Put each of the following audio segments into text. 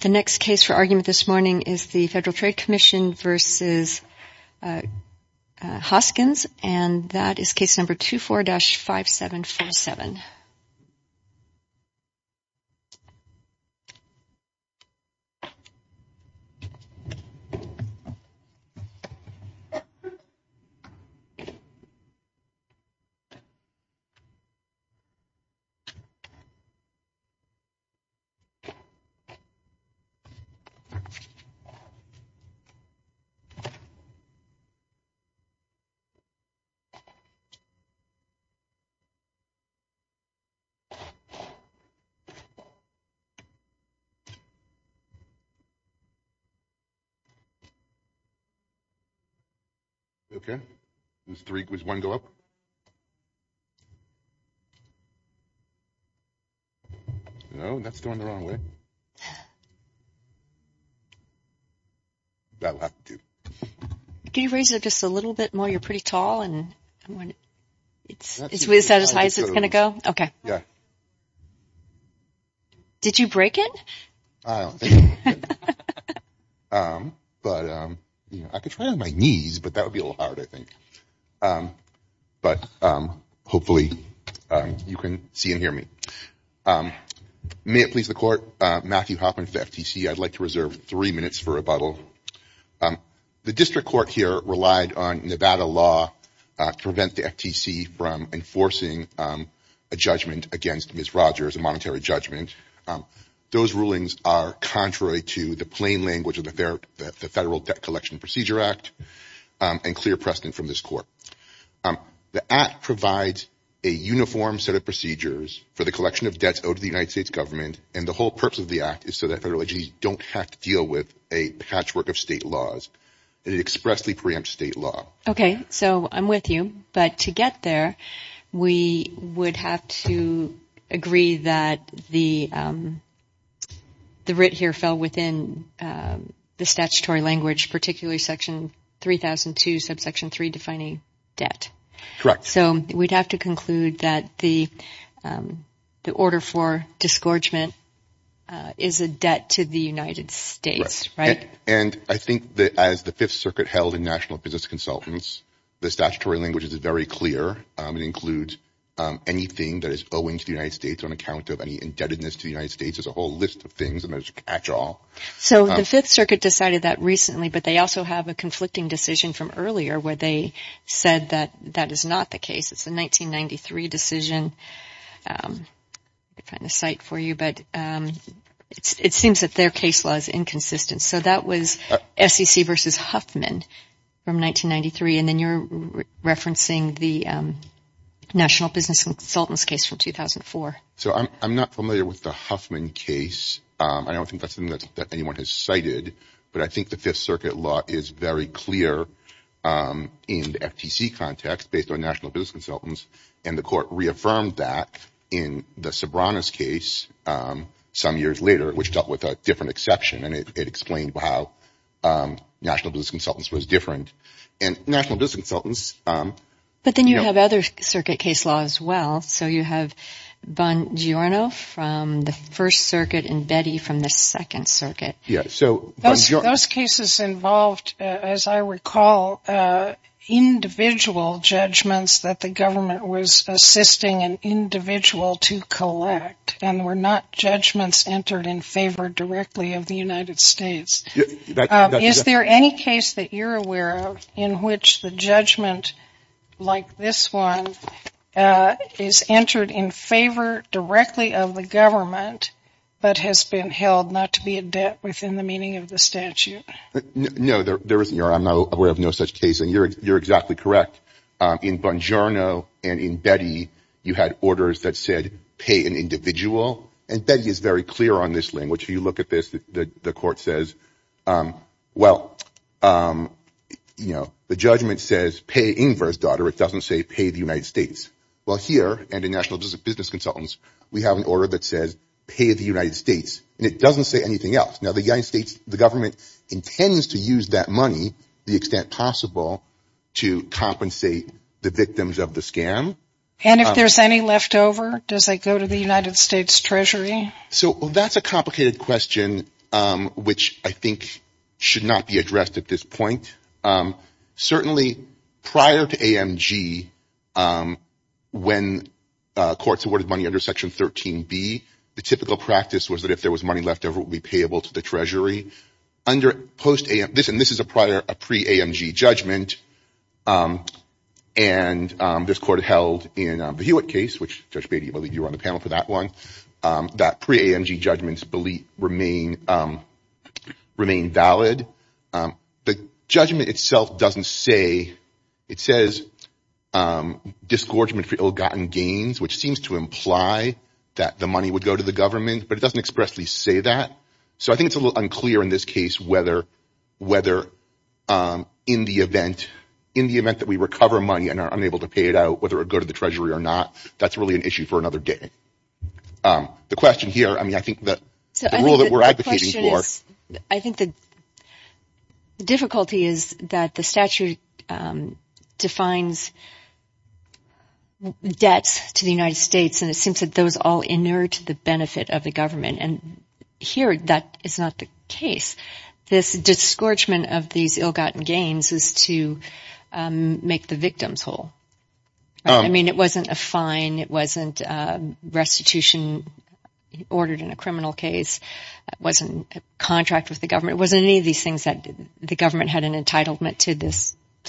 The next case for argument this morning is the Federal Trade Commission v. Hoskins and that is case number 24-5747. Okay. Can you raise it just a little bit more? You're pretty tall and it's going to go. Okay. Yeah. Did you break it? But I could try on my knees, but that would be a little hard, I think. But hopefully you can see and hear me. May it please the court. Matthew Hoffman, FTC. I'd like to reserve three minutes for rebuttal. The district court here relied on Nevada law to prevent the FTC from enforcing a judgment against Ms. Rogers, a monetary judgment. Those rulings are contrary to the plain language of the Federal Debt Collection Procedure Act and clear precedent from this court. The act provides a uniform set of procedures for the collection of debts owed to the United States government and the whole purpose of the act is so that federal agencies don't have to deal with a patchwork of state laws. It expressly preempts state law. Okay. So I'm with you, but to get there, we would have to agree that the writ here fell within the statutory language, particularly section 3002, subsection 3, defining debt. Correct. So we'd have to conclude that the order for disgorgement is a debt to the United States, right? And I think that as the Fifth Circuit held in National Business Consultants, the statutory language is very clear. It includes anything that is owing to the United States on account of any indebtedness to the United States. There's a whole list of things. So the Fifth Circuit decided that recently, but they also have a conflicting decision from earlier where they said that that is not the case. It's the 1993 decision. Let me find the site for you, but it seems that their case law is inconsistent. So that was SEC versus Huffman from 1993, and then you're referencing the National Business Consultants case from 2004. So I'm not familiar with the Huffman case. I don't think that's something that anyone has cited, but I think the Fifth Circuit law is very clear in the FTC context based on National Business Consultants, and the court reaffirmed that in the Sobranos case some years later, which dealt with a different exception, and it explained how National Business Consultants was different. And National Business Consultants. But then you have other circuit case laws as well. So you have Bongiorno from the First Circuit and Betty from the Second Circuit. So those cases involved, as I recall, individual judgments that the government was assisting an individual to collect and were not judgments entered in favor directly of the United States. Is there any case that you're aware of in which the judgment like this one is entered in favor directly of the government but has been held not to be a debt within the meaning of the statute? No, there isn't. I'm aware of no such case, and you're exactly correct. In Bongiorno and in Betty, you had orders that said pay an individual, and Betty is very clear on this language. If you look at this, the court says, well, you know, the judgment says pay Inger's daughter. It doesn't say pay the United States. Well, here and in National Business Consultants, we have an order that says pay the United States, and it doesn't say anything else. Now, the government intends to use that money to the extent possible to compensate the victims of the scam. And if there's any left over, does it go to the United States Treasury? So that's a complicated question, which I think should not be addressed at this point. Certainly prior to AMG, when courts awarded money under Section 13B, the typical practice was that if there was money left over, it would be payable to the Treasury. This is a pre-AMG judgment, and this court held in the Hewitt case, which Judge Beatty, I believe you were on the panel for that one. That pre-AMG judgments remain valid. The judgment itself doesn't say. It says disgorgement for ill-gotten gains, which seems to imply that the money would go to the government, but it doesn't expressly say that. So I think it's a little unclear in this case whether in the event that we recover money and are unable to pay it out, whether it would go to the Treasury or not. That's really an issue for another day. The question here, I mean, I think the rule that we're advocating for. I think the difficulty is that the statute defines debts to the United States, and it seems that those all inert the benefit of the government, and here that is not the case. This disgorgement of these ill-gotten gains is to make the victims whole. I mean, it wasn't a fine. It wasn't restitution ordered in a criminal case. It wasn't a contract with the government. It wasn't any of these things that the government had an entitlement to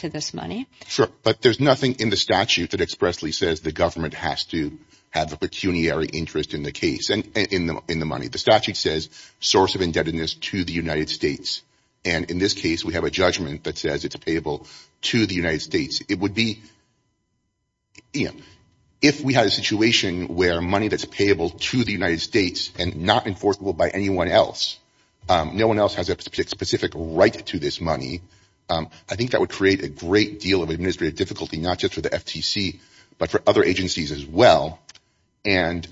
this money. Sure, but there's nothing in the statute that expressly says the government has to have a pecuniary interest in the case, in the money. The statute says source of indebtedness to the United States, and in this case we have a judgment that says it's payable to the United States. It would be, you know, if we had a situation where money that's payable to the United States and not enforceable by anyone else, no one else has a specific right to this money, I think that would create a great deal of administrative difficulty, not just for the FTC, but for other agencies as well. And,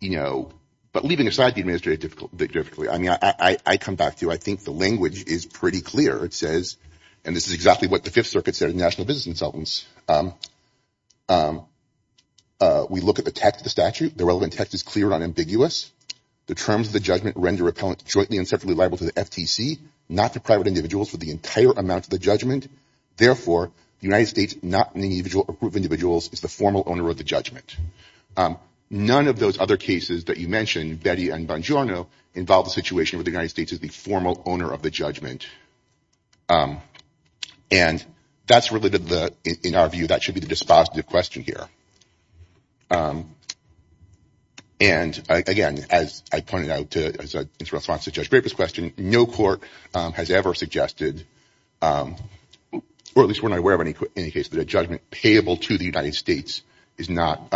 you know, but leaving aside the administrative difficulty, I mean, I come back to I think the language is pretty clear. It says, and this is exactly what the Fifth Circuit said to national business consultants, we look at the text of the statute. The relevant text is clear and unambiguous. The terms of the judgment render repellent jointly and separately liable to the FTC, not to private individuals for the entire amount of the judgment. Therefore, the United States, not any group of individuals, is the formal owner of the judgment. None of those other cases that you mentioned, Betty and Bongiorno, involve the situation where the United States is the formal owner of the judgment. And that's related to the, in our view, that should be the dispositive question here. And, again, as I pointed out, in response to Judge Graper's question, no court has ever suggested, or at least we're not aware of any case, that a judgment payable to the United States is not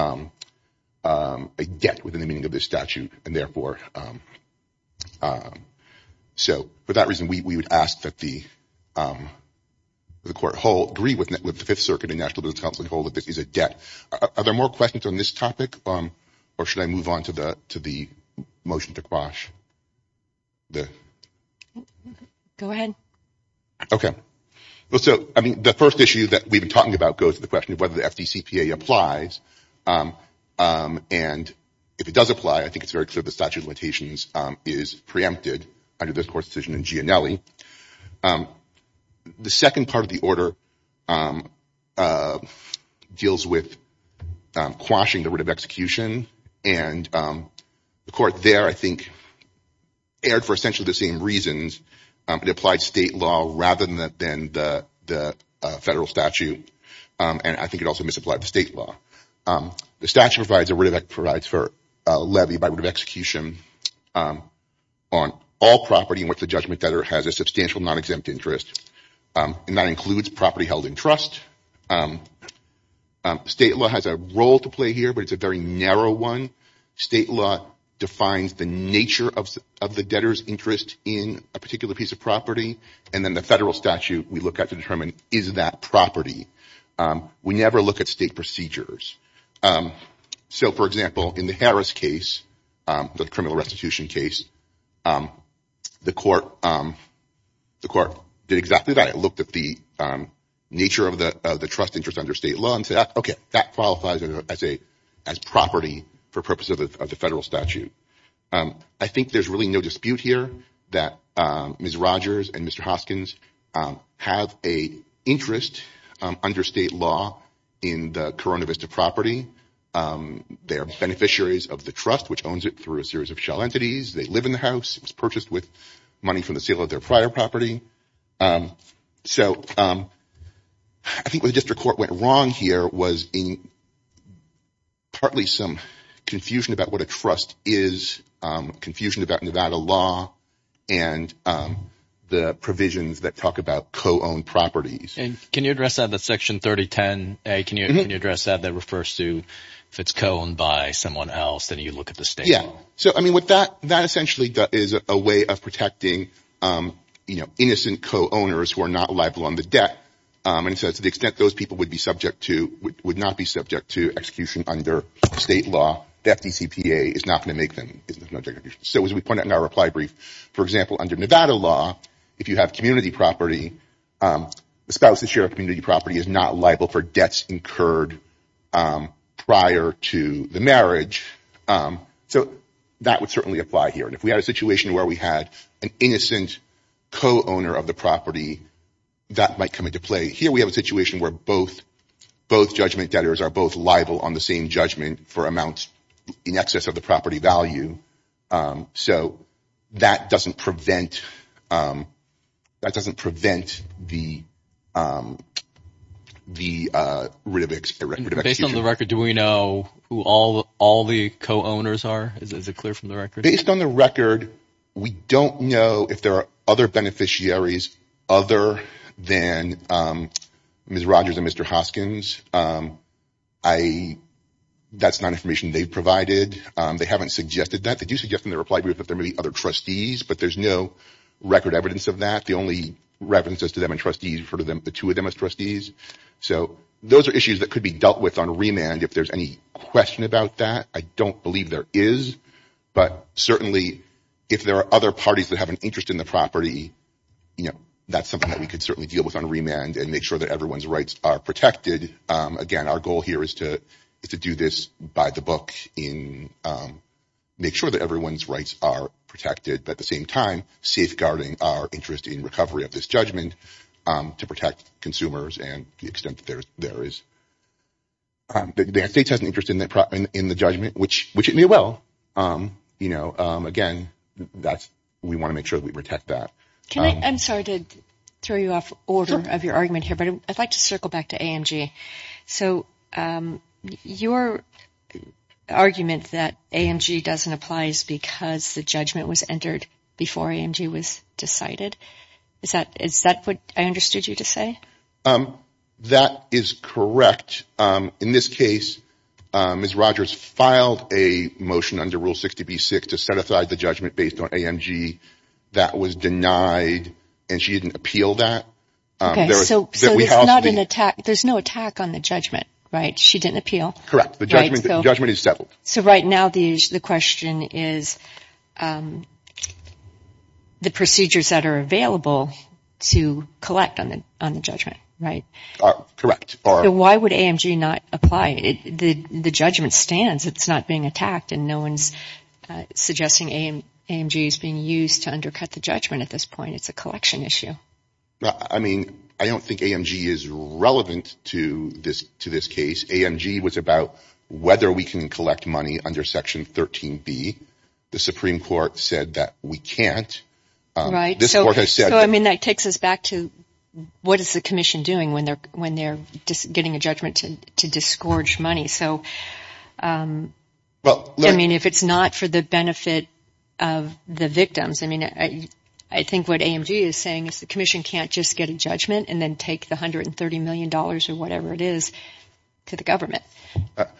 a debt within the meaning of this statute. And therefore, so for that reason, we would ask that the court agree with the Fifth Circuit and national business consultants and hold that this is a debt. Are there more questions on this topic, or should I move on to the motion to quash? Go ahead. Well, so, I mean, the first issue that we've been talking about goes to the question of whether the FDCPA applies. And if it does apply, I think it's very clear the statute of limitations is preempted under this court's decision in Gianelli. The second part of the order deals with quashing the writ of execution. And the court there, I think, erred for essentially the same reasons. It applied state law rather than the federal statute. And I think it also misapplied the state law. The statute provides a writ of execution for a levy by writ of execution on all property in which the judgment debtor has a substantial non-exempt interest. And that includes property held in trust. State law has a role to play here, but it's a very narrow one. State law defines the nature of the debtor's interest in a particular piece of property. And then the federal statute we look at to determine is that property. We never look at state procedures. So, for example, in the Harris case, the criminal restitution case, the court did exactly that. It looked at the nature of the trust interest under state law and said, okay, that qualifies as property for purposes of the federal statute. I think there's really no dispute here that Ms. Rogers and Mr. Hoskins have an interest under state law in the Corona Vista property. They are beneficiaries of the trust, which owns it through a series of shell entities. They live in the house. It was purchased with money from the sale of their prior property. So I think what the district court went wrong here was partly some confusion about what a trust is, confusion about Nevada law and the provisions that talk about co-owned properties. Can you address that? That's section 3010A. Can you address that? That refers to if it's co-owned by someone else, then you look at the state law. So, I mean, with that, that essentially is a way of protecting, you know, innocent co-owners who are not liable on the debt. And so to the extent those people would be subject to, would not be subject to execution under state law, the FDCPA is not going to make them. So as we point out in our reply brief, for example, under Nevada law, if you have community property, a spouse that share a community property is not liable for debts incurred prior to the marriage. So that would certainly apply here. And if we had a situation where we had an innocent co-owner of the property, that might come into play. Here we have a situation where both judgment debtors are both liable on the same judgment for amounts in excess of the property value. So that doesn't prevent the writ of execution. Based on the record, do we know who all the co-owners are? Is it clear from the record? Based on the record, we don't know if there are other beneficiaries other than Ms. Rogers and Mr. Hoskins. That's not information they've provided. They haven't suggested that. They do suggest in their reply brief that there may be other trustees, but there's no record evidence of that. The only references to them and trustees refer to the two of them as trustees. So those are issues that could be dealt with on remand if there's any question about that. I don't believe there is, but certainly if there are other parties that have an interest in the property, that's something that we could certainly deal with on remand and make sure that everyone's rights are protected. Again, our goal here is to do this by the book, make sure that everyone's rights are protected, but at the same time, safeguarding our interest in recovery of this judgment to protect consumers and the extent that there is. The United States has an interest in the judgment, which it may well. Again, we want to make sure that we protect that. I'm sorry to throw you off order of your argument here, but I'd like to circle back to AMG. So your argument that AMG doesn't apply is because the judgment was entered before AMG was decided. Is that what I understood you to say? That is correct. In this case, Ms. Rogers filed a motion under Rule 60B-6 to set aside the judgment based on AMG that was denied, and she didn't appeal that. Okay, so there's no attack on the judgment, right? She didn't appeal. Correct. The judgment is settled. So right now the question is the procedures that are available to collect on the judgment, right? Correct. So why would AMG not apply? The judgment stands. It's not being attacked, and no one's suggesting AMG is being used to undercut the judgment at this point. I mean, it's a collection issue. I mean, I don't think AMG is relevant to this case. AMG was about whether we can collect money under Section 13B. The Supreme Court said that we can't. Right. So, I mean, that takes us back to what is the commission doing when they're getting a judgment to disgorge money? So, I mean, if it's not for the benefit of the victims, I mean, I think what AMG is saying is the commission can't just get a judgment and then take the $130 million or whatever it is to the government.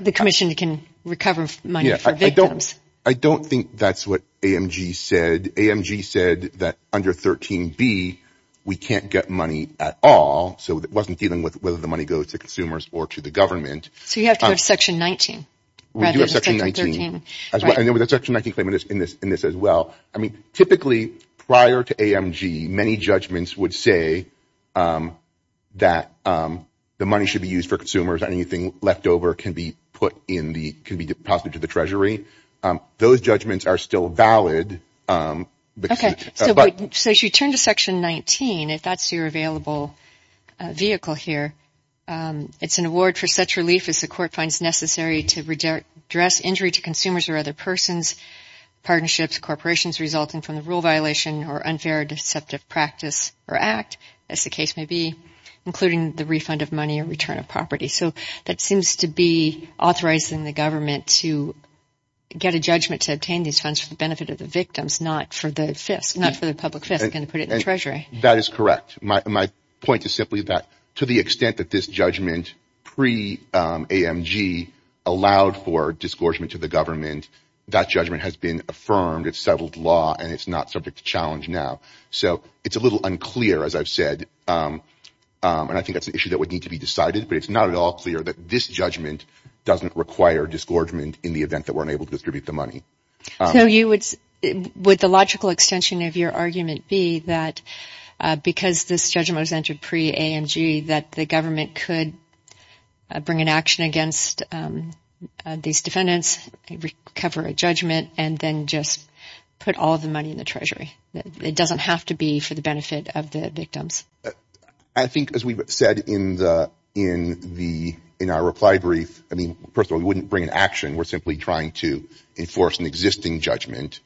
The commission can recover money for victims. I don't think that's what AMG said. AMG said that under 13B we can't get money at all, so it wasn't dealing with whether the money goes to consumers or to the government. So you have to go to Section 19. We do have Section 19. Right. And there was a Section 19 claim in this as well. I mean, typically, prior to AMG, many judgments would say that the money should be used for consumers and anything left over can be put in the – can be deposited to the treasury. Those judgments are still valid. Okay. So if you turn to Section 19, if that's your available vehicle here, it's an award for such relief as the court finds necessary to address injury to consumers or other persons, partnerships, corporations resulting from the rule violation or unfair or deceptive practice or act, as the case may be, including the refund of money or return of property. So that seems to be authorizing the government to get a judgment to obtain these funds for the benefit of the victims, not for the public fisc and to put it in the treasury. That is correct. My point is simply that to the extent that this judgment pre-AMG allowed for disgorgement to the government, that judgment has been affirmed. It's settled law, and it's not subject to challenge now. So it's a little unclear, as I've said, and I think that's an issue that would need to be decided, but it's not at all clear that this judgment doesn't require disgorgement in the event that we're unable to distribute the money. So would the logical extension of your argument be that because this judgment was entered pre-AMG that the government could bring an action against these defendants, recover a judgment, and then just put all of the money in the treasury? It doesn't have to be for the benefit of the victims. I think, as we've said in our reply brief, first of all, we wouldn't bring an action. We're simply trying to enforce an existing judgment,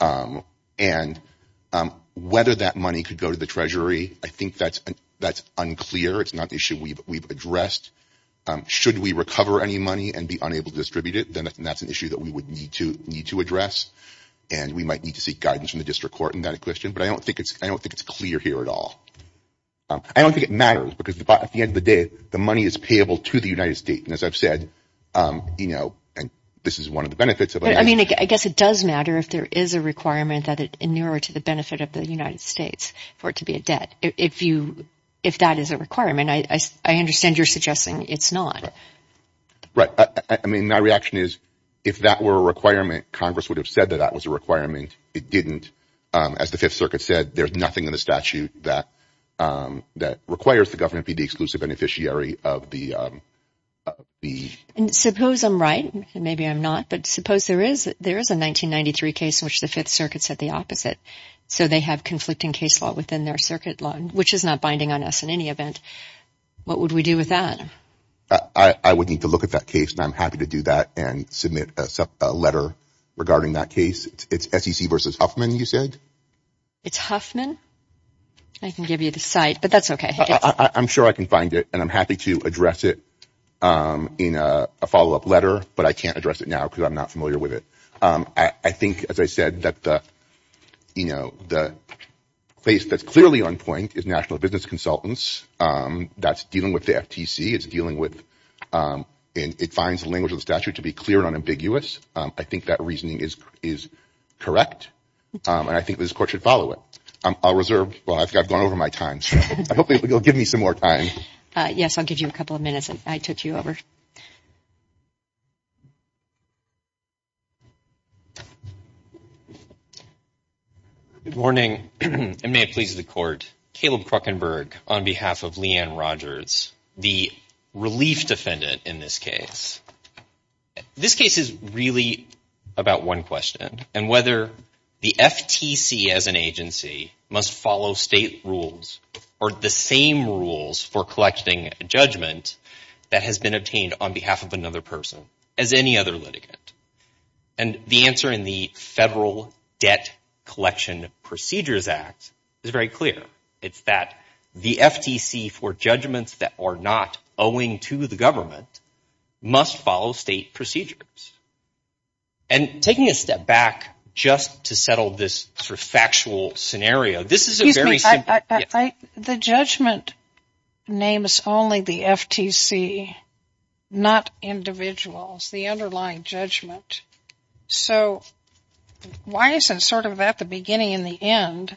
and whether that money could go to the treasury, I think that's unclear. It's not an issue we've addressed. Should we recover any money and be unable to distribute it, then that's an issue that we would need to address, and we might need to seek guidance from the district court in that question, but I don't think it's clear here at all. I don't think it matters, because at the end of the day, the money is payable to the United States, and as I've said, this is one of the benefits of it. I guess it does matter if there is a requirement that it inure to the benefit of the United States for it to be a debt. If that is a requirement, I understand you're suggesting it's not. Right. I mean, my reaction is if that were a requirement, Congress would have said that that was a requirement. It didn't. As the Fifth Circuit said, there's nothing in the statute that requires the government to be the exclusive beneficiary of the… Suppose I'm right, and maybe I'm not, but suppose there is a 1993 case in which the Fifth Circuit said the opposite, so they have conflicting case law within their circuit law, which is not binding on us in any event. What would we do with that? I would need to look at that case, and I'm happy to do that and submit a letter regarding that case. It's SEC versus Huffman, you said? It's Huffman. I can give you the site, but that's okay. I'm sure I can find it, and I'm happy to address it in a follow-up letter, but I can't address it now because I'm not familiar with it. I think, as I said, that the place that's clearly on point is national business consultants. That's dealing with the FTC. It's dealing with – it finds the language of the statute to be clear and unambiguous. I think that reasoning is correct, and I think this Court should follow it. I'll reserve – well, I've gone over my time, so I hope you'll give me some more time. Yes, I'll give you a couple of minutes. I took you over. Good morning, and may it please the Court. Caleb Kruckenberg on behalf of Leanne Rogers, the relief defendant in this case. This case is really about one question, and whether the FTC as an agency must follow state rules or the same rules for collecting judgment that has been obtained on behalf of another person as any other litigant. And the answer in the Federal Debt Collection Procedures Act is very clear. It's that the FTC for judgments that are not owing to the government must follow state procedures. And taking a step back just to settle this sort of factual scenario, this is a very simple – The judgment names only the FTC, not individuals, the underlying judgment. So why isn't sort of at the beginning and the end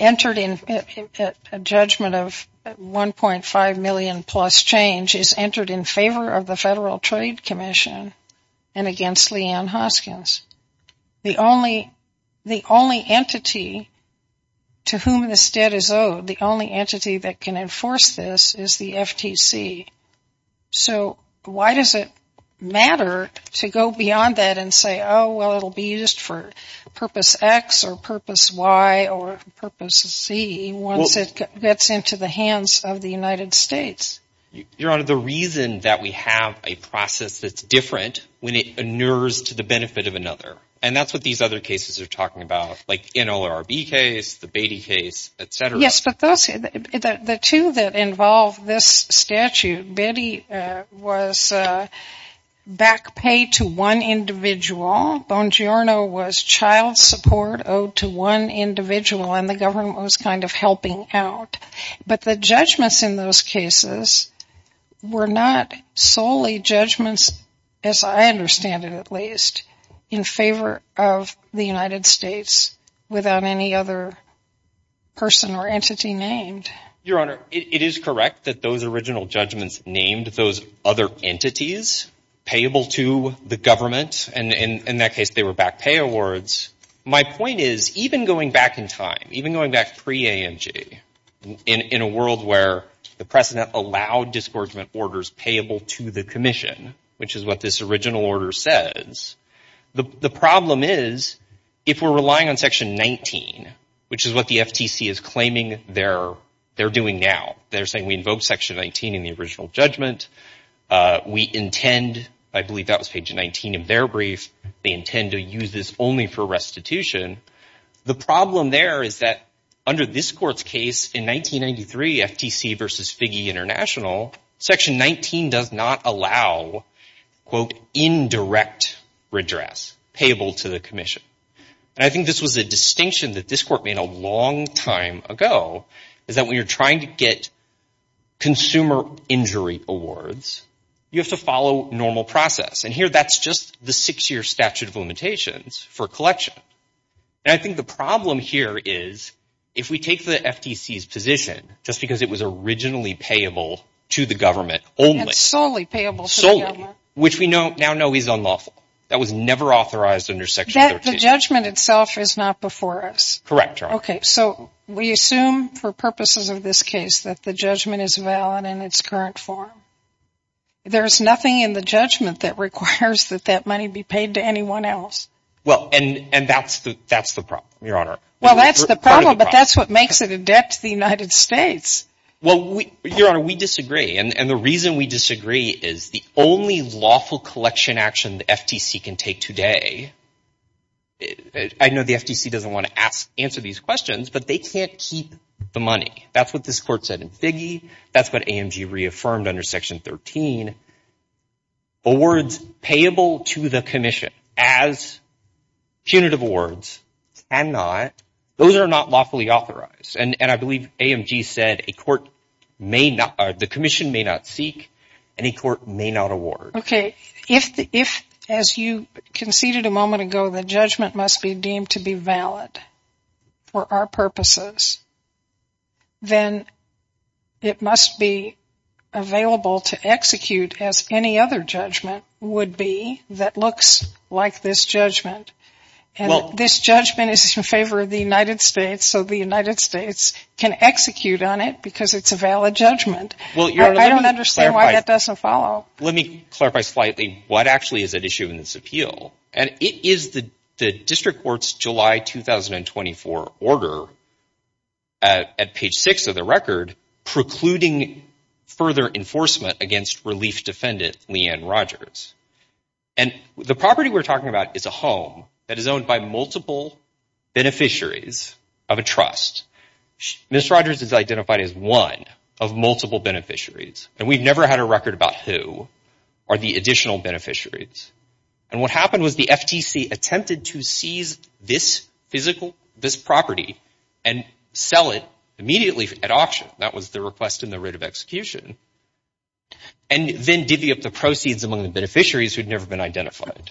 entered in a judgment of 1.5 million plus change is entered in favor of the Federal Trade Commission and against Leanne Hoskins? The only entity to whom this debt is owed, the only entity that can enforce this is the FTC. So why does it matter to go beyond that and say, oh, well, it'll be used for purpose X or purpose Y or purpose C once it gets into the hands of the United States? Your Honor, the reason that we have a process that's different when it inures to the benefit of another. And that's what these other cases are talking about, like NLRB case, the Beatty case, et cetera. Yes, but the two that involve this statute, Beatty was back pay to one individual. Bongiorno was child support owed to one individual, and the government was kind of helping out. But the judgments in those cases were not solely judgments, as I understand it at least, in favor of the United States without any other person or entity named. Your Honor, it is correct that those original judgments named those other entities payable to the government. And in that case, they were back pay awards. My point is, even going back in time, even going back pre-AMG, in a world where the president allowed non-discouragement orders payable to the commission, which is what this original order says, the problem is, if we're relying on section 19, which is what the FTC is claiming they're doing now, they're saying we invoke section 19 in the original judgment. We intend, I believe that was page 19 of their brief, they intend to use this only for restitution. The problem there is that under this court's case in 1993, FTC versus Figge International, section 19 does not allow, quote, indirect redress payable to the commission. And I think this was a distinction that this court made a long time ago, is that when you're trying to get consumer injury awards, you have to follow normal process. And here, that's just the six-year statute of limitations for collection. And I think the problem here is, if we take the FTC's position, just because it was originally payable to the government only. And solely payable to the government. Solely, which we now know is unlawful. That was never authorized under section 13. The judgment itself is not before us. Correct, Your Honor. Okay, so we assume for purposes of this case that the judgment is valid in its current form. There's nothing in the judgment that requires that that money be paid to anyone else. Well, and that's the problem, Your Honor. Well, that's the problem, but that's what makes it a debt to the United States. Well, Your Honor, we disagree. And the reason we disagree is the only lawful collection action the FTC can take today, I know the FTC doesn't want to answer these questions, but they can't keep the money. That's what this court said in Figge. That's what AMG reaffirmed under section 13. Awards payable to the commission as punitive awards cannot, those are not lawfully authorized. And I believe AMG said a court may not, the commission may not seek and a court may not award. Okay, if, as you conceded a moment ago, the judgment must be deemed to be valid for our purposes, then it must be available to execute as any other judgment would be that looks like this judgment. And this judgment is in favor of the United States, so the United States can execute on it because it's a valid judgment. I don't understand why that doesn't follow. Let me clarify slightly what actually is at issue in this appeal. And it is the district court's July 2024 order at page six of the record precluding further enforcement against relief defendant Leanne Rogers. And the property we're talking about is a home that is owned by multiple beneficiaries of a trust. Ms. Rogers is identified as one of multiple beneficiaries, and we've never had a record about who are the additional beneficiaries. And what happened was the FTC attempted to seize this physical, this property, and sell it immediately at auction. That was the request and the rate of execution. And then divvy up the proceeds among the beneficiaries who had never been identified.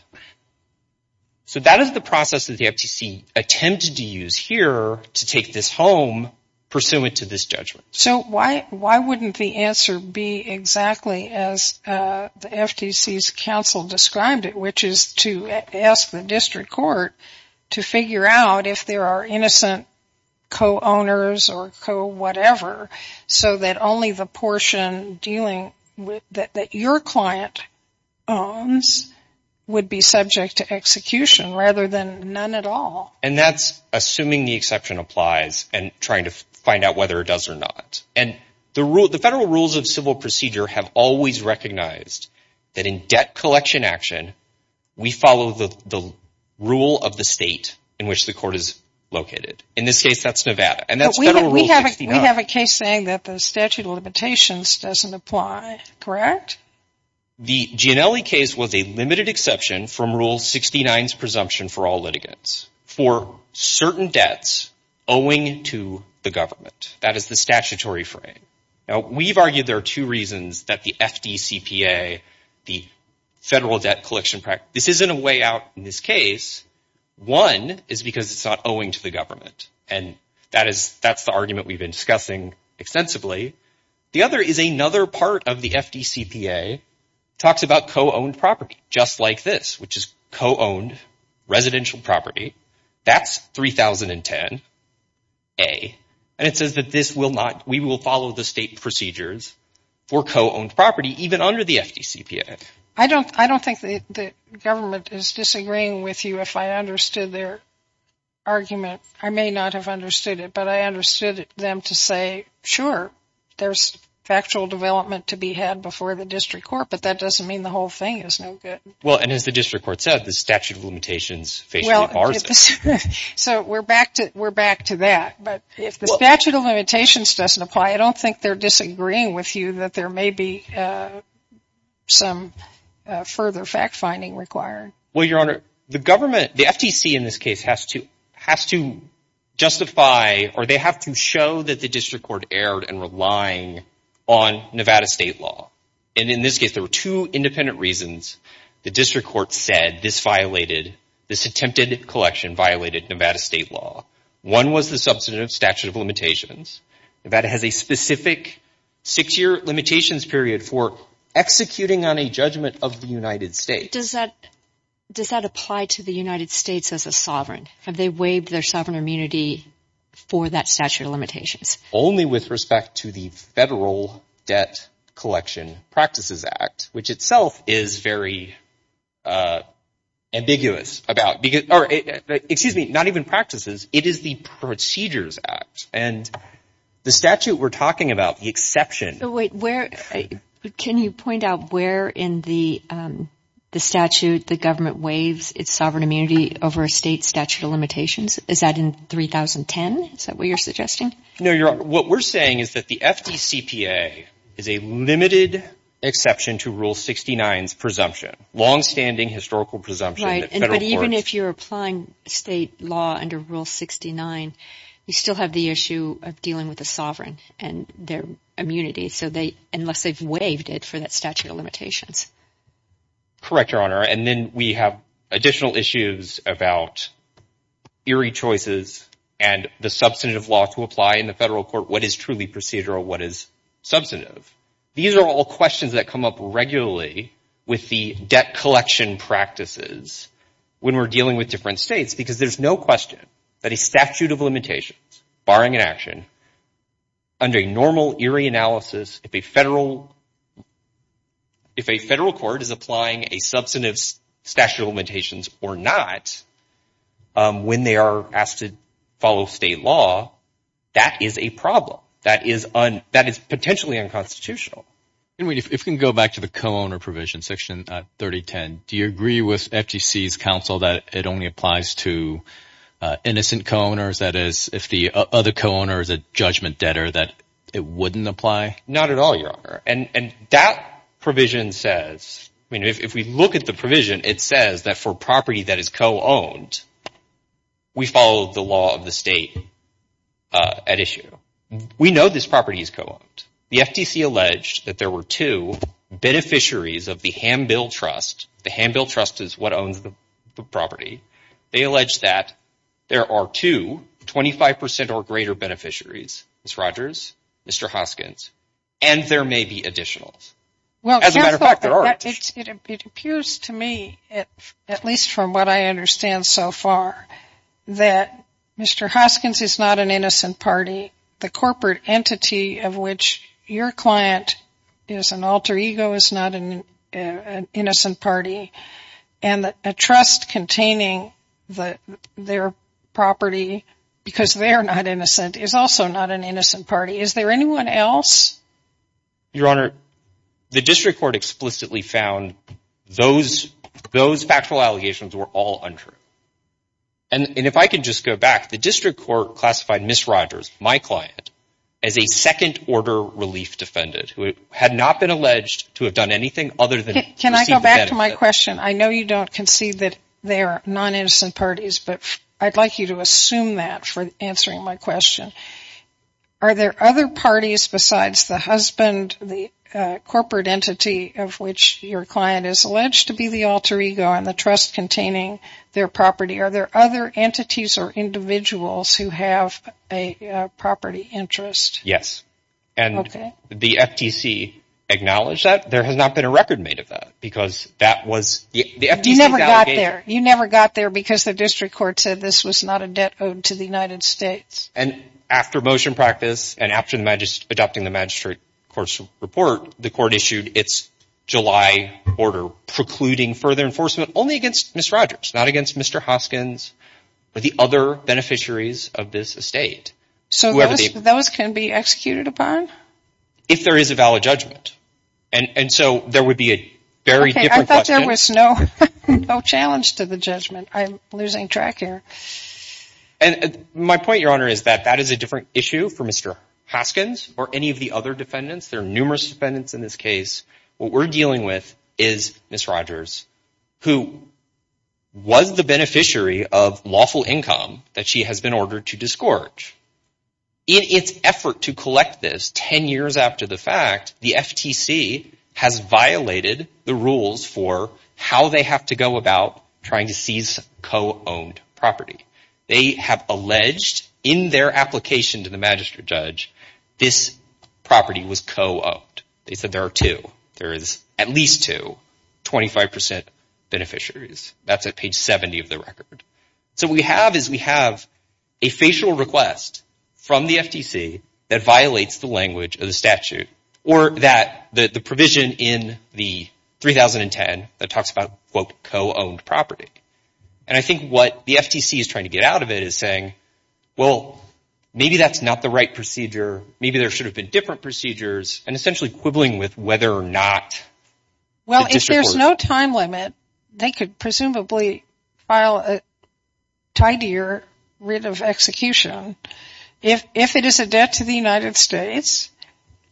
So that is the process that the FTC attempted to use here to take this home pursuant to this judgment. So why wouldn't the answer be exactly as the FTC's counsel described it, which is to ask the district court to figure out if there are innocent co-owners or co-whatever, so that only the portion that your client owns would be subject to execution rather than none at all. And that's assuming the exception applies and trying to find out whether it does or not. And the federal rules of civil procedure have always recognized that in debt collection action, we follow the rule of the state in which the court is located. In this case, that's Nevada. And that's Federal Rule 69. But we have a case saying that the statute of limitations doesn't apply, correct? The Gianelli case was a limited exception from Rule 69's presumption for all litigants for certain debts owing to the government. That is the statutory frame. Now, we've argued there are two reasons that the FDCPA, the Federal Debt Collection Practice, this isn't a way out in this case. One is because it's not owing to the government. And that's the argument we've been discussing extensively. The other is another part of the FDCPA talks about co-owned property just like this, which is co-owned residential property. That's 3010A. And it says that we will follow the state procedures for co-owned property even under the FDCPA. I don't think the government is disagreeing with you if I understood their argument. I may not have understood it, but I understood them to say, sure, there's factual development to be had before the district court, but that doesn't mean the whole thing is no good. Well, and as the district court said, the statute of limitations basically bars it. So we're back to that. But if the statute of limitations doesn't apply, I don't think they're disagreeing with you that there may be some further fact-finding required. Well, Your Honor, the government, the FDC in this case, has to justify or they have to show that the district court erred in relying on Nevada state law. And in this case, there were two independent reasons the district court said this violated, this attempted collection violated Nevada state law. One was the substantive statute of limitations. Nevada has a specific six-year limitations period for executing on a judgment of the United States. Does that apply to the United States as a sovereign? Have they waived their sovereign immunity for that statute of limitations? Only with respect to the Federal Debt Collection Practices Act, which itself is very ambiguous about, excuse me, not even practices. It is the Procedures Act. And the statute we're talking about, the exception. Wait, where? Can you point out where in the statute the government waives its sovereign immunity over a state statute of limitations? Is that in 3010? Is that what you're suggesting? No, Your Honor. What we're saying is that the FDCPA is a limited exception to Rule 69's presumption, longstanding historical presumption. Right. But even if you're applying state law under Rule 69, you still have the issue of dealing with the sovereign and their immunity, unless they've waived it for that statute of limitations. Correct, Your Honor. And then we have additional issues about eerie choices and the substantive law to apply in the federal court. What is truly procedural? What is substantive? These are all questions that come up regularly with the debt collection practices when we're dealing with different states, because there's no question that a statute of limitations, barring an action, under normal eerie analysis, if a federal court is applying a substantive statute of limitations or not, when they are asked to follow state law, that is a problem. That is potentially unconstitutional. If we can go back to the co-owner provision, Section 3010, do you agree with FDC's counsel that it only applies to innocent co-owners, that is, if the other co-owner is a judgment debtor, that it wouldn't apply? Not at all, Your Honor. And that provision says – I mean, if we look at the provision, it says that for property that is co-owned, we follow the law of the state at issue. We know this property is co-owned. The FTC alleged that there were two beneficiaries of the Hambill Trust. The Hambill Trust is what owns the property. They allege that there are two, 25 percent or greater, beneficiaries, Ms. Rogers, Mr. Hoskins, and there may be additionals. As a matter of fact, there are. But it appears to me, at least from what I understand so far, that Mr. Hoskins is not an innocent party. The corporate entity of which your client is an alter ego is not an innocent party. And a trust containing their property because they are not innocent is also not an innocent party. Is there anyone else? Your Honor, the district court explicitly found those factual allegations were all untrue. And if I can just go back, the district court classified Ms. Rogers, my client, as a second-order relief defendant who had not been alleged to have done anything other than receive the benefit. Can I go back to my question? I know you don't concede that they are non-innocent parties, but I'd like you to assume that for answering my question. Are there other parties besides the husband, the corporate entity of which your client is alleged to be the alter ego, and the trust containing their property? Are there other entities or individuals who have a property interest? Yes. Okay. And the FTC acknowledged that. There has not been a record made of that because that was the FTC's allegation. You never got there because the district court said this was not a debt owed to the United States. And after motion practice and after adopting the magistrate court's report, the court issued its July order precluding further enforcement only against Ms. Rogers, not against Mr. Hoskins or the other beneficiaries of this estate. So those can be executed upon? If there is a valid judgment. And so there would be a very different question. I thought there was no challenge to the judgment. I'm losing track here. And my point, Your Honor, is that that is a different issue for Mr. Hoskins or any of the other defendants. There are numerous defendants in this case. What we're dealing with is Ms. Rogers, who was the beneficiary of lawful income that she has been ordered to disgorge. In its effort to collect this 10 years after the fact, the FTC has violated the rules for how they have to go about trying to seize co-owned property. They have alleged in their application to the magistrate judge this property was co-owned. They said there are two. There is at least two, 25% beneficiaries. That's at page 70 of the record. So what we have is we have a facial request from the FTC that violates the language of the statute or that the provision in the 3010 that talks about, quote, co-owned property. And I think what the FTC is trying to get out of it is saying, well, maybe that's not the right procedure. Maybe there should have been different procedures and essentially quibbling with whether or not the district court— Well, if there's no time limit, they could presumably file a tidier writ of execution. If it is a debt to the United States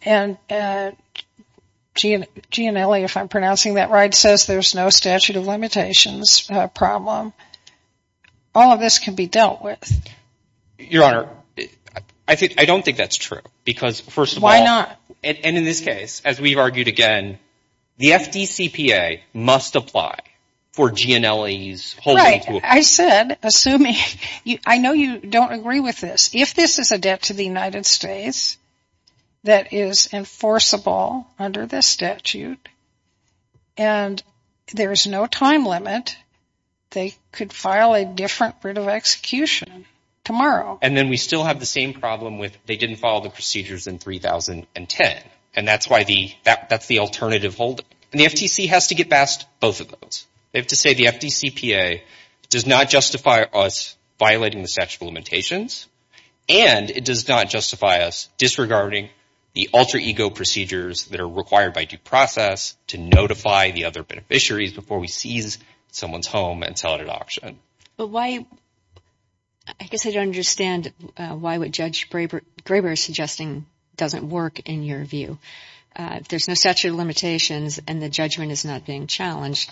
and G&LE, if I'm pronouncing that right, says there's no statute of limitations problem, all of this can be dealt with. Your Honor, I don't think that's true because, first of all— Why not? And in this case, as we've argued again, the FDCPA must apply for G&LE's holding— I said, assuming—I know you don't agree with this. If this is a debt to the United States that is enforceable under this statute and there is no time limit, they could file a different writ of execution tomorrow. And then we still have the same problem with they didn't follow the procedures in 3010. And that's why the—that's the alternative holding. And the FTC has to get past both of those. They have to say the FDCPA does not justify us violating the statute of limitations, and it does not justify us disregarding the alter ego procedures that are required by due process to notify the other beneficiaries before we seize someone's home and sell it at auction. But why—I guess I don't understand why what Judge Graber is suggesting doesn't work in your view. If there's no statute of limitations and the judgment is not being challenged,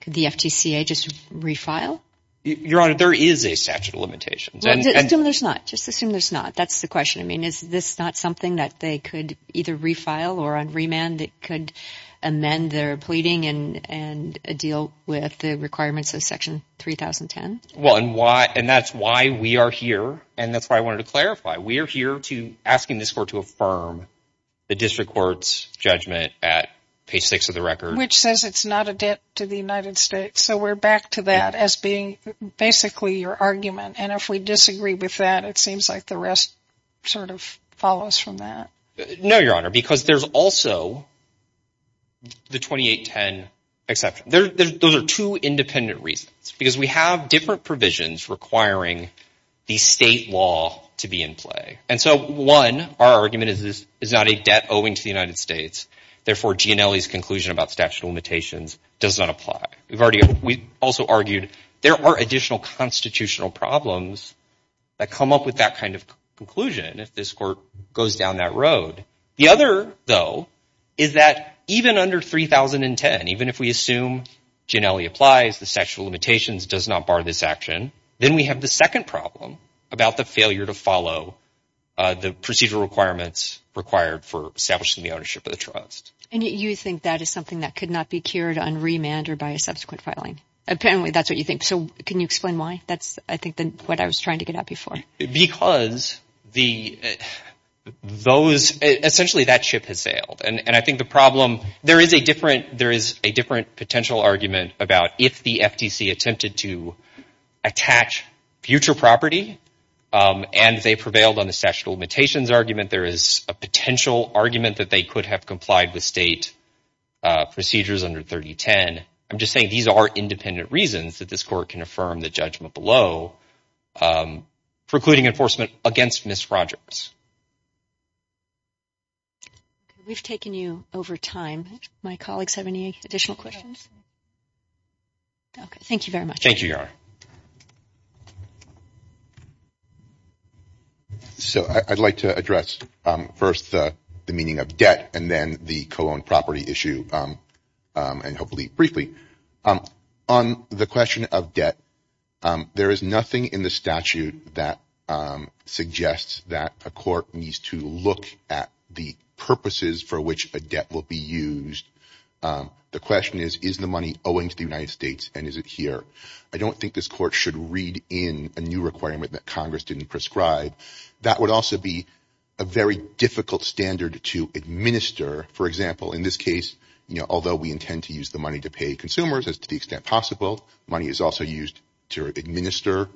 could the FTCA just refile? Your Honor, there is a statute of limitations. Just assume there's not. Just assume there's not. That's the question. I mean, is this not something that they could either refile or on remand that could amend their pleading and deal with the requirements of Section 3010? Well, and why—and that's why we are here, and that's why I wanted to clarify. We are here asking this Court to affirm the district court's judgment at page 6 of the record. Which says it's not a debt to the United States, so we're back to that as being basically your argument. And if we disagree with that, it seems like the rest sort of follows from that. No, Your Honor, because there's also the 2810 exception. Those are two independent reasons, because we have different provisions requiring the state law to be in play. And so, one, our argument is this is not a debt owing to the United States. Therefore, Gianelli's conclusion about statute of limitations does not apply. We've already—we also argued there are additional constitutional problems that come up with that kind of conclusion if this Court goes down that road. The other, though, is that even under 3010, even if we assume Gianelli applies, the statute of limitations does not bar this action, then we have the second problem about the failure to follow the procedural requirements required for establishing the ownership of the trust. And you think that is something that could not be cured on remand or by a subsequent filing. Apparently, that's what you think. So can you explain why? That's, I think, what I was trying to get at before. Because the—those—essentially, that ship has sailed. And I think the problem—there is a different—there is a different potential argument about if the FTC attempted to attach future property and they prevailed on the statute of limitations argument, there is a potential argument that they could have complied with state procedures under 3010. I'm just saying these are independent reasons that this Court can affirm the judgment below precluding enforcement against Miss Rogers. We've taken you over time. My colleagues have any additional questions? Okay. Thank you very much. Thank you, Your Honor. So I'd like to address first the meaning of debt and then the co-owned property issue and hopefully briefly. On the question of debt, there is nothing in the statute that suggests that a court needs to look at the purposes for which a debt will be used. The question is, is the money owing to the United States and is it here? I don't think this Court should read in a new requirement that Congress didn't prescribe. That would also be a very difficult standard to administer. For example, in this case, although we intend to use the money to pay consumers as to the extent possible, money is also used to administer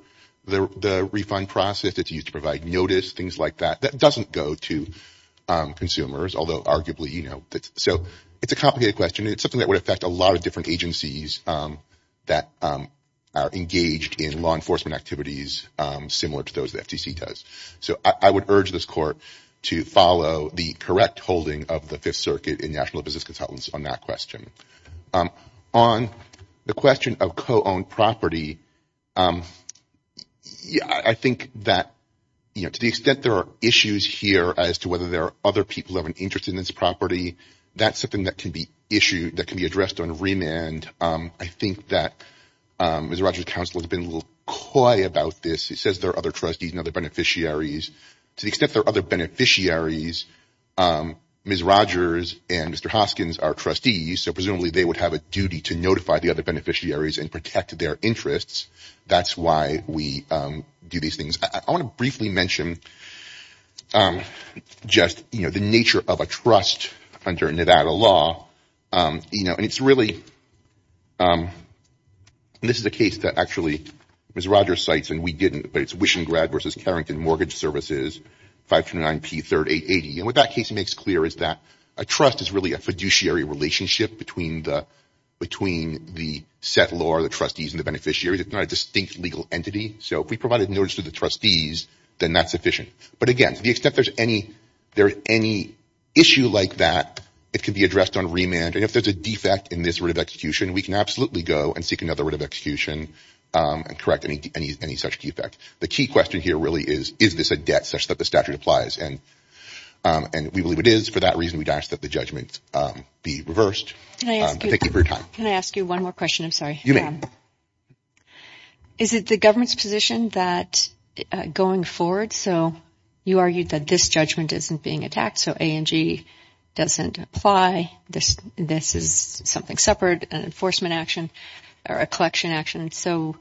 the refund process. It's used to provide notice, things like that. That doesn't go to consumers, although arguably, you know. So it's a complicated question. It's something that would affect a lot of different agencies that are engaged in law enforcement activities similar to those the FTC does. So I would urge this Court to follow the correct holding of the Fifth Circuit in National Business Consultants on that question. On the question of co-owned property, I think that, you know, to the extent there are issues here as to whether there are other people who have an interest in this property, that's something that can be addressed on remand. I think that Mr. Rogers' counsel has been a little coy about this. He says there are other trustees and other beneficiaries. To the extent there are other beneficiaries, Ms. Rogers and Mr. Hoskins are trustees, so presumably they would have a duty to notify the other beneficiaries and protect their interests. That's why we do these things. I want to briefly mention just, you know, the nature of a trust under Nevada law. You know, and it's really – and this is a case that actually Ms. Rogers cites and we didn't, but it's Wishingrad v. Carrington Mortgage Services, 529P3880. And what that case makes clear is that a trust is really a fiduciary relationship between the settlor, the trustees, and the beneficiaries. It's not a distinct legal entity. So if we provided notice to the trustees, then that's sufficient. But, again, to the extent there's any issue like that, it can be addressed on remand. And if there's a defect in this writ of execution, we can absolutely go and seek another writ of execution and correct any such defect. The key question here really is, is this a debt such that the statute applies? And we believe it is. For that reason, we'd ask that the judgment be reversed. Thank you for your time. Can I ask you one more question? I'm sorry. You may. Is it the government's position that going forward, so you argued that this judgment isn't being attacked, so A&G doesn't apply, this is something separate, an enforcement action or a collection action. So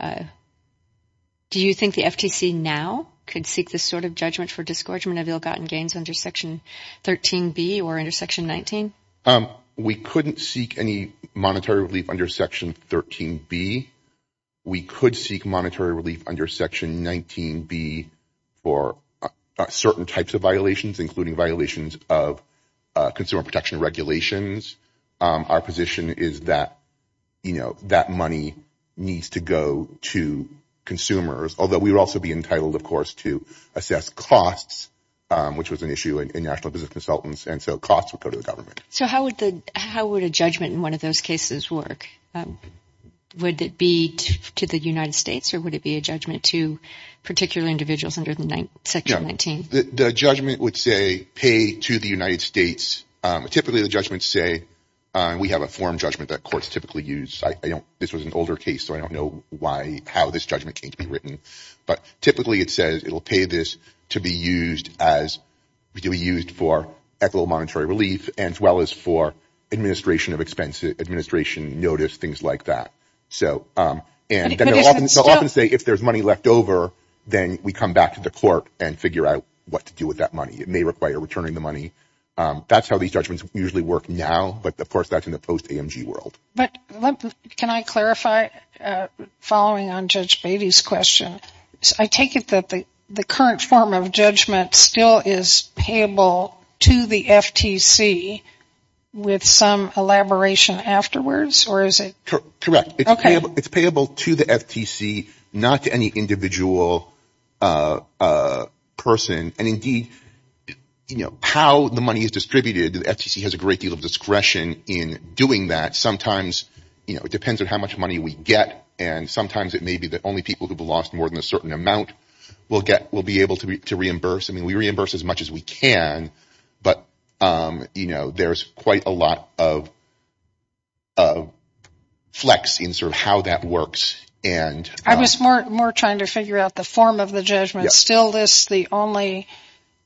do you think the FTC now could seek this sort of judgment for disgorgement of ill-gotten gains under Section 13B or under Section 19? We couldn't seek any monetary relief under Section 13B. We could seek monetary relief under Section 19B for certain types of violations, including violations of consumer protection regulations. Our position is that, you know, that money needs to go to consumers, although we would also be entitled, of course, to assess costs, which was an issue in national business consultants, and so costs would go to the government. So how would a judgment in one of those cases work? Would it be to the United States, or would it be a judgment to particular individuals under Section 19? The judgment would say, pay to the United States. Typically, the judgments say, we have a form judgment that courts typically use. This was an older case, so I don't know how this judgment came to be written. But typically, it says it will pay this to be used for equitable monetary relief, as well as for administration of expenses, administration notice, things like that. And they'll often say, if there's money left over, then we come back to the court and figure out what to do with that money. It may require returning the money. That's how these judgments usually work now, but of course, that's in the post-AMG world. Can I clarify, following on Judge Beatty's question, I take it that the current form of judgment still is payable to the FTC with some elaboration afterwards, or is it? Correct. It's payable to the FTC, not to any individual person. And indeed, how the money is distributed, the FTC has a great deal of discretion in doing that. Sometimes it depends on how much money we get, and sometimes it may be that only people who have lost more than a certain amount will be able to reimburse. I mean, we reimburse as much as we can, but there's quite a lot of flex in sort of how that works. I was more trying to figure out the form of the judgment. It still lists the only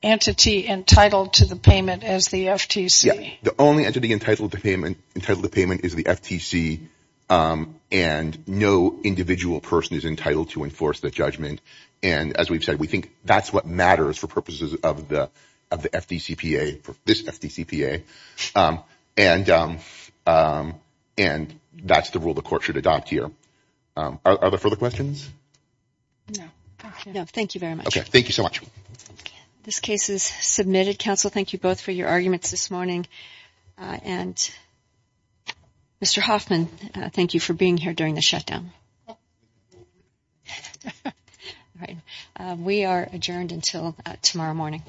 entity entitled to the payment as the FTC. Yes, the only entity entitled to payment is the FTC, and no individual person is entitled to enforce that judgment. And as we've said, we think that's what matters for purposes of the FDCPA, this FDCPA, and that's the rule the court should adopt here. Are there further questions? No. No, thank you very much. Okay, thank you so much. This case is submitted. Counsel, thank you both for your arguments this morning, and Mr. Hoffman, thank you for being here during the shutdown. We are adjourned until tomorrow morning.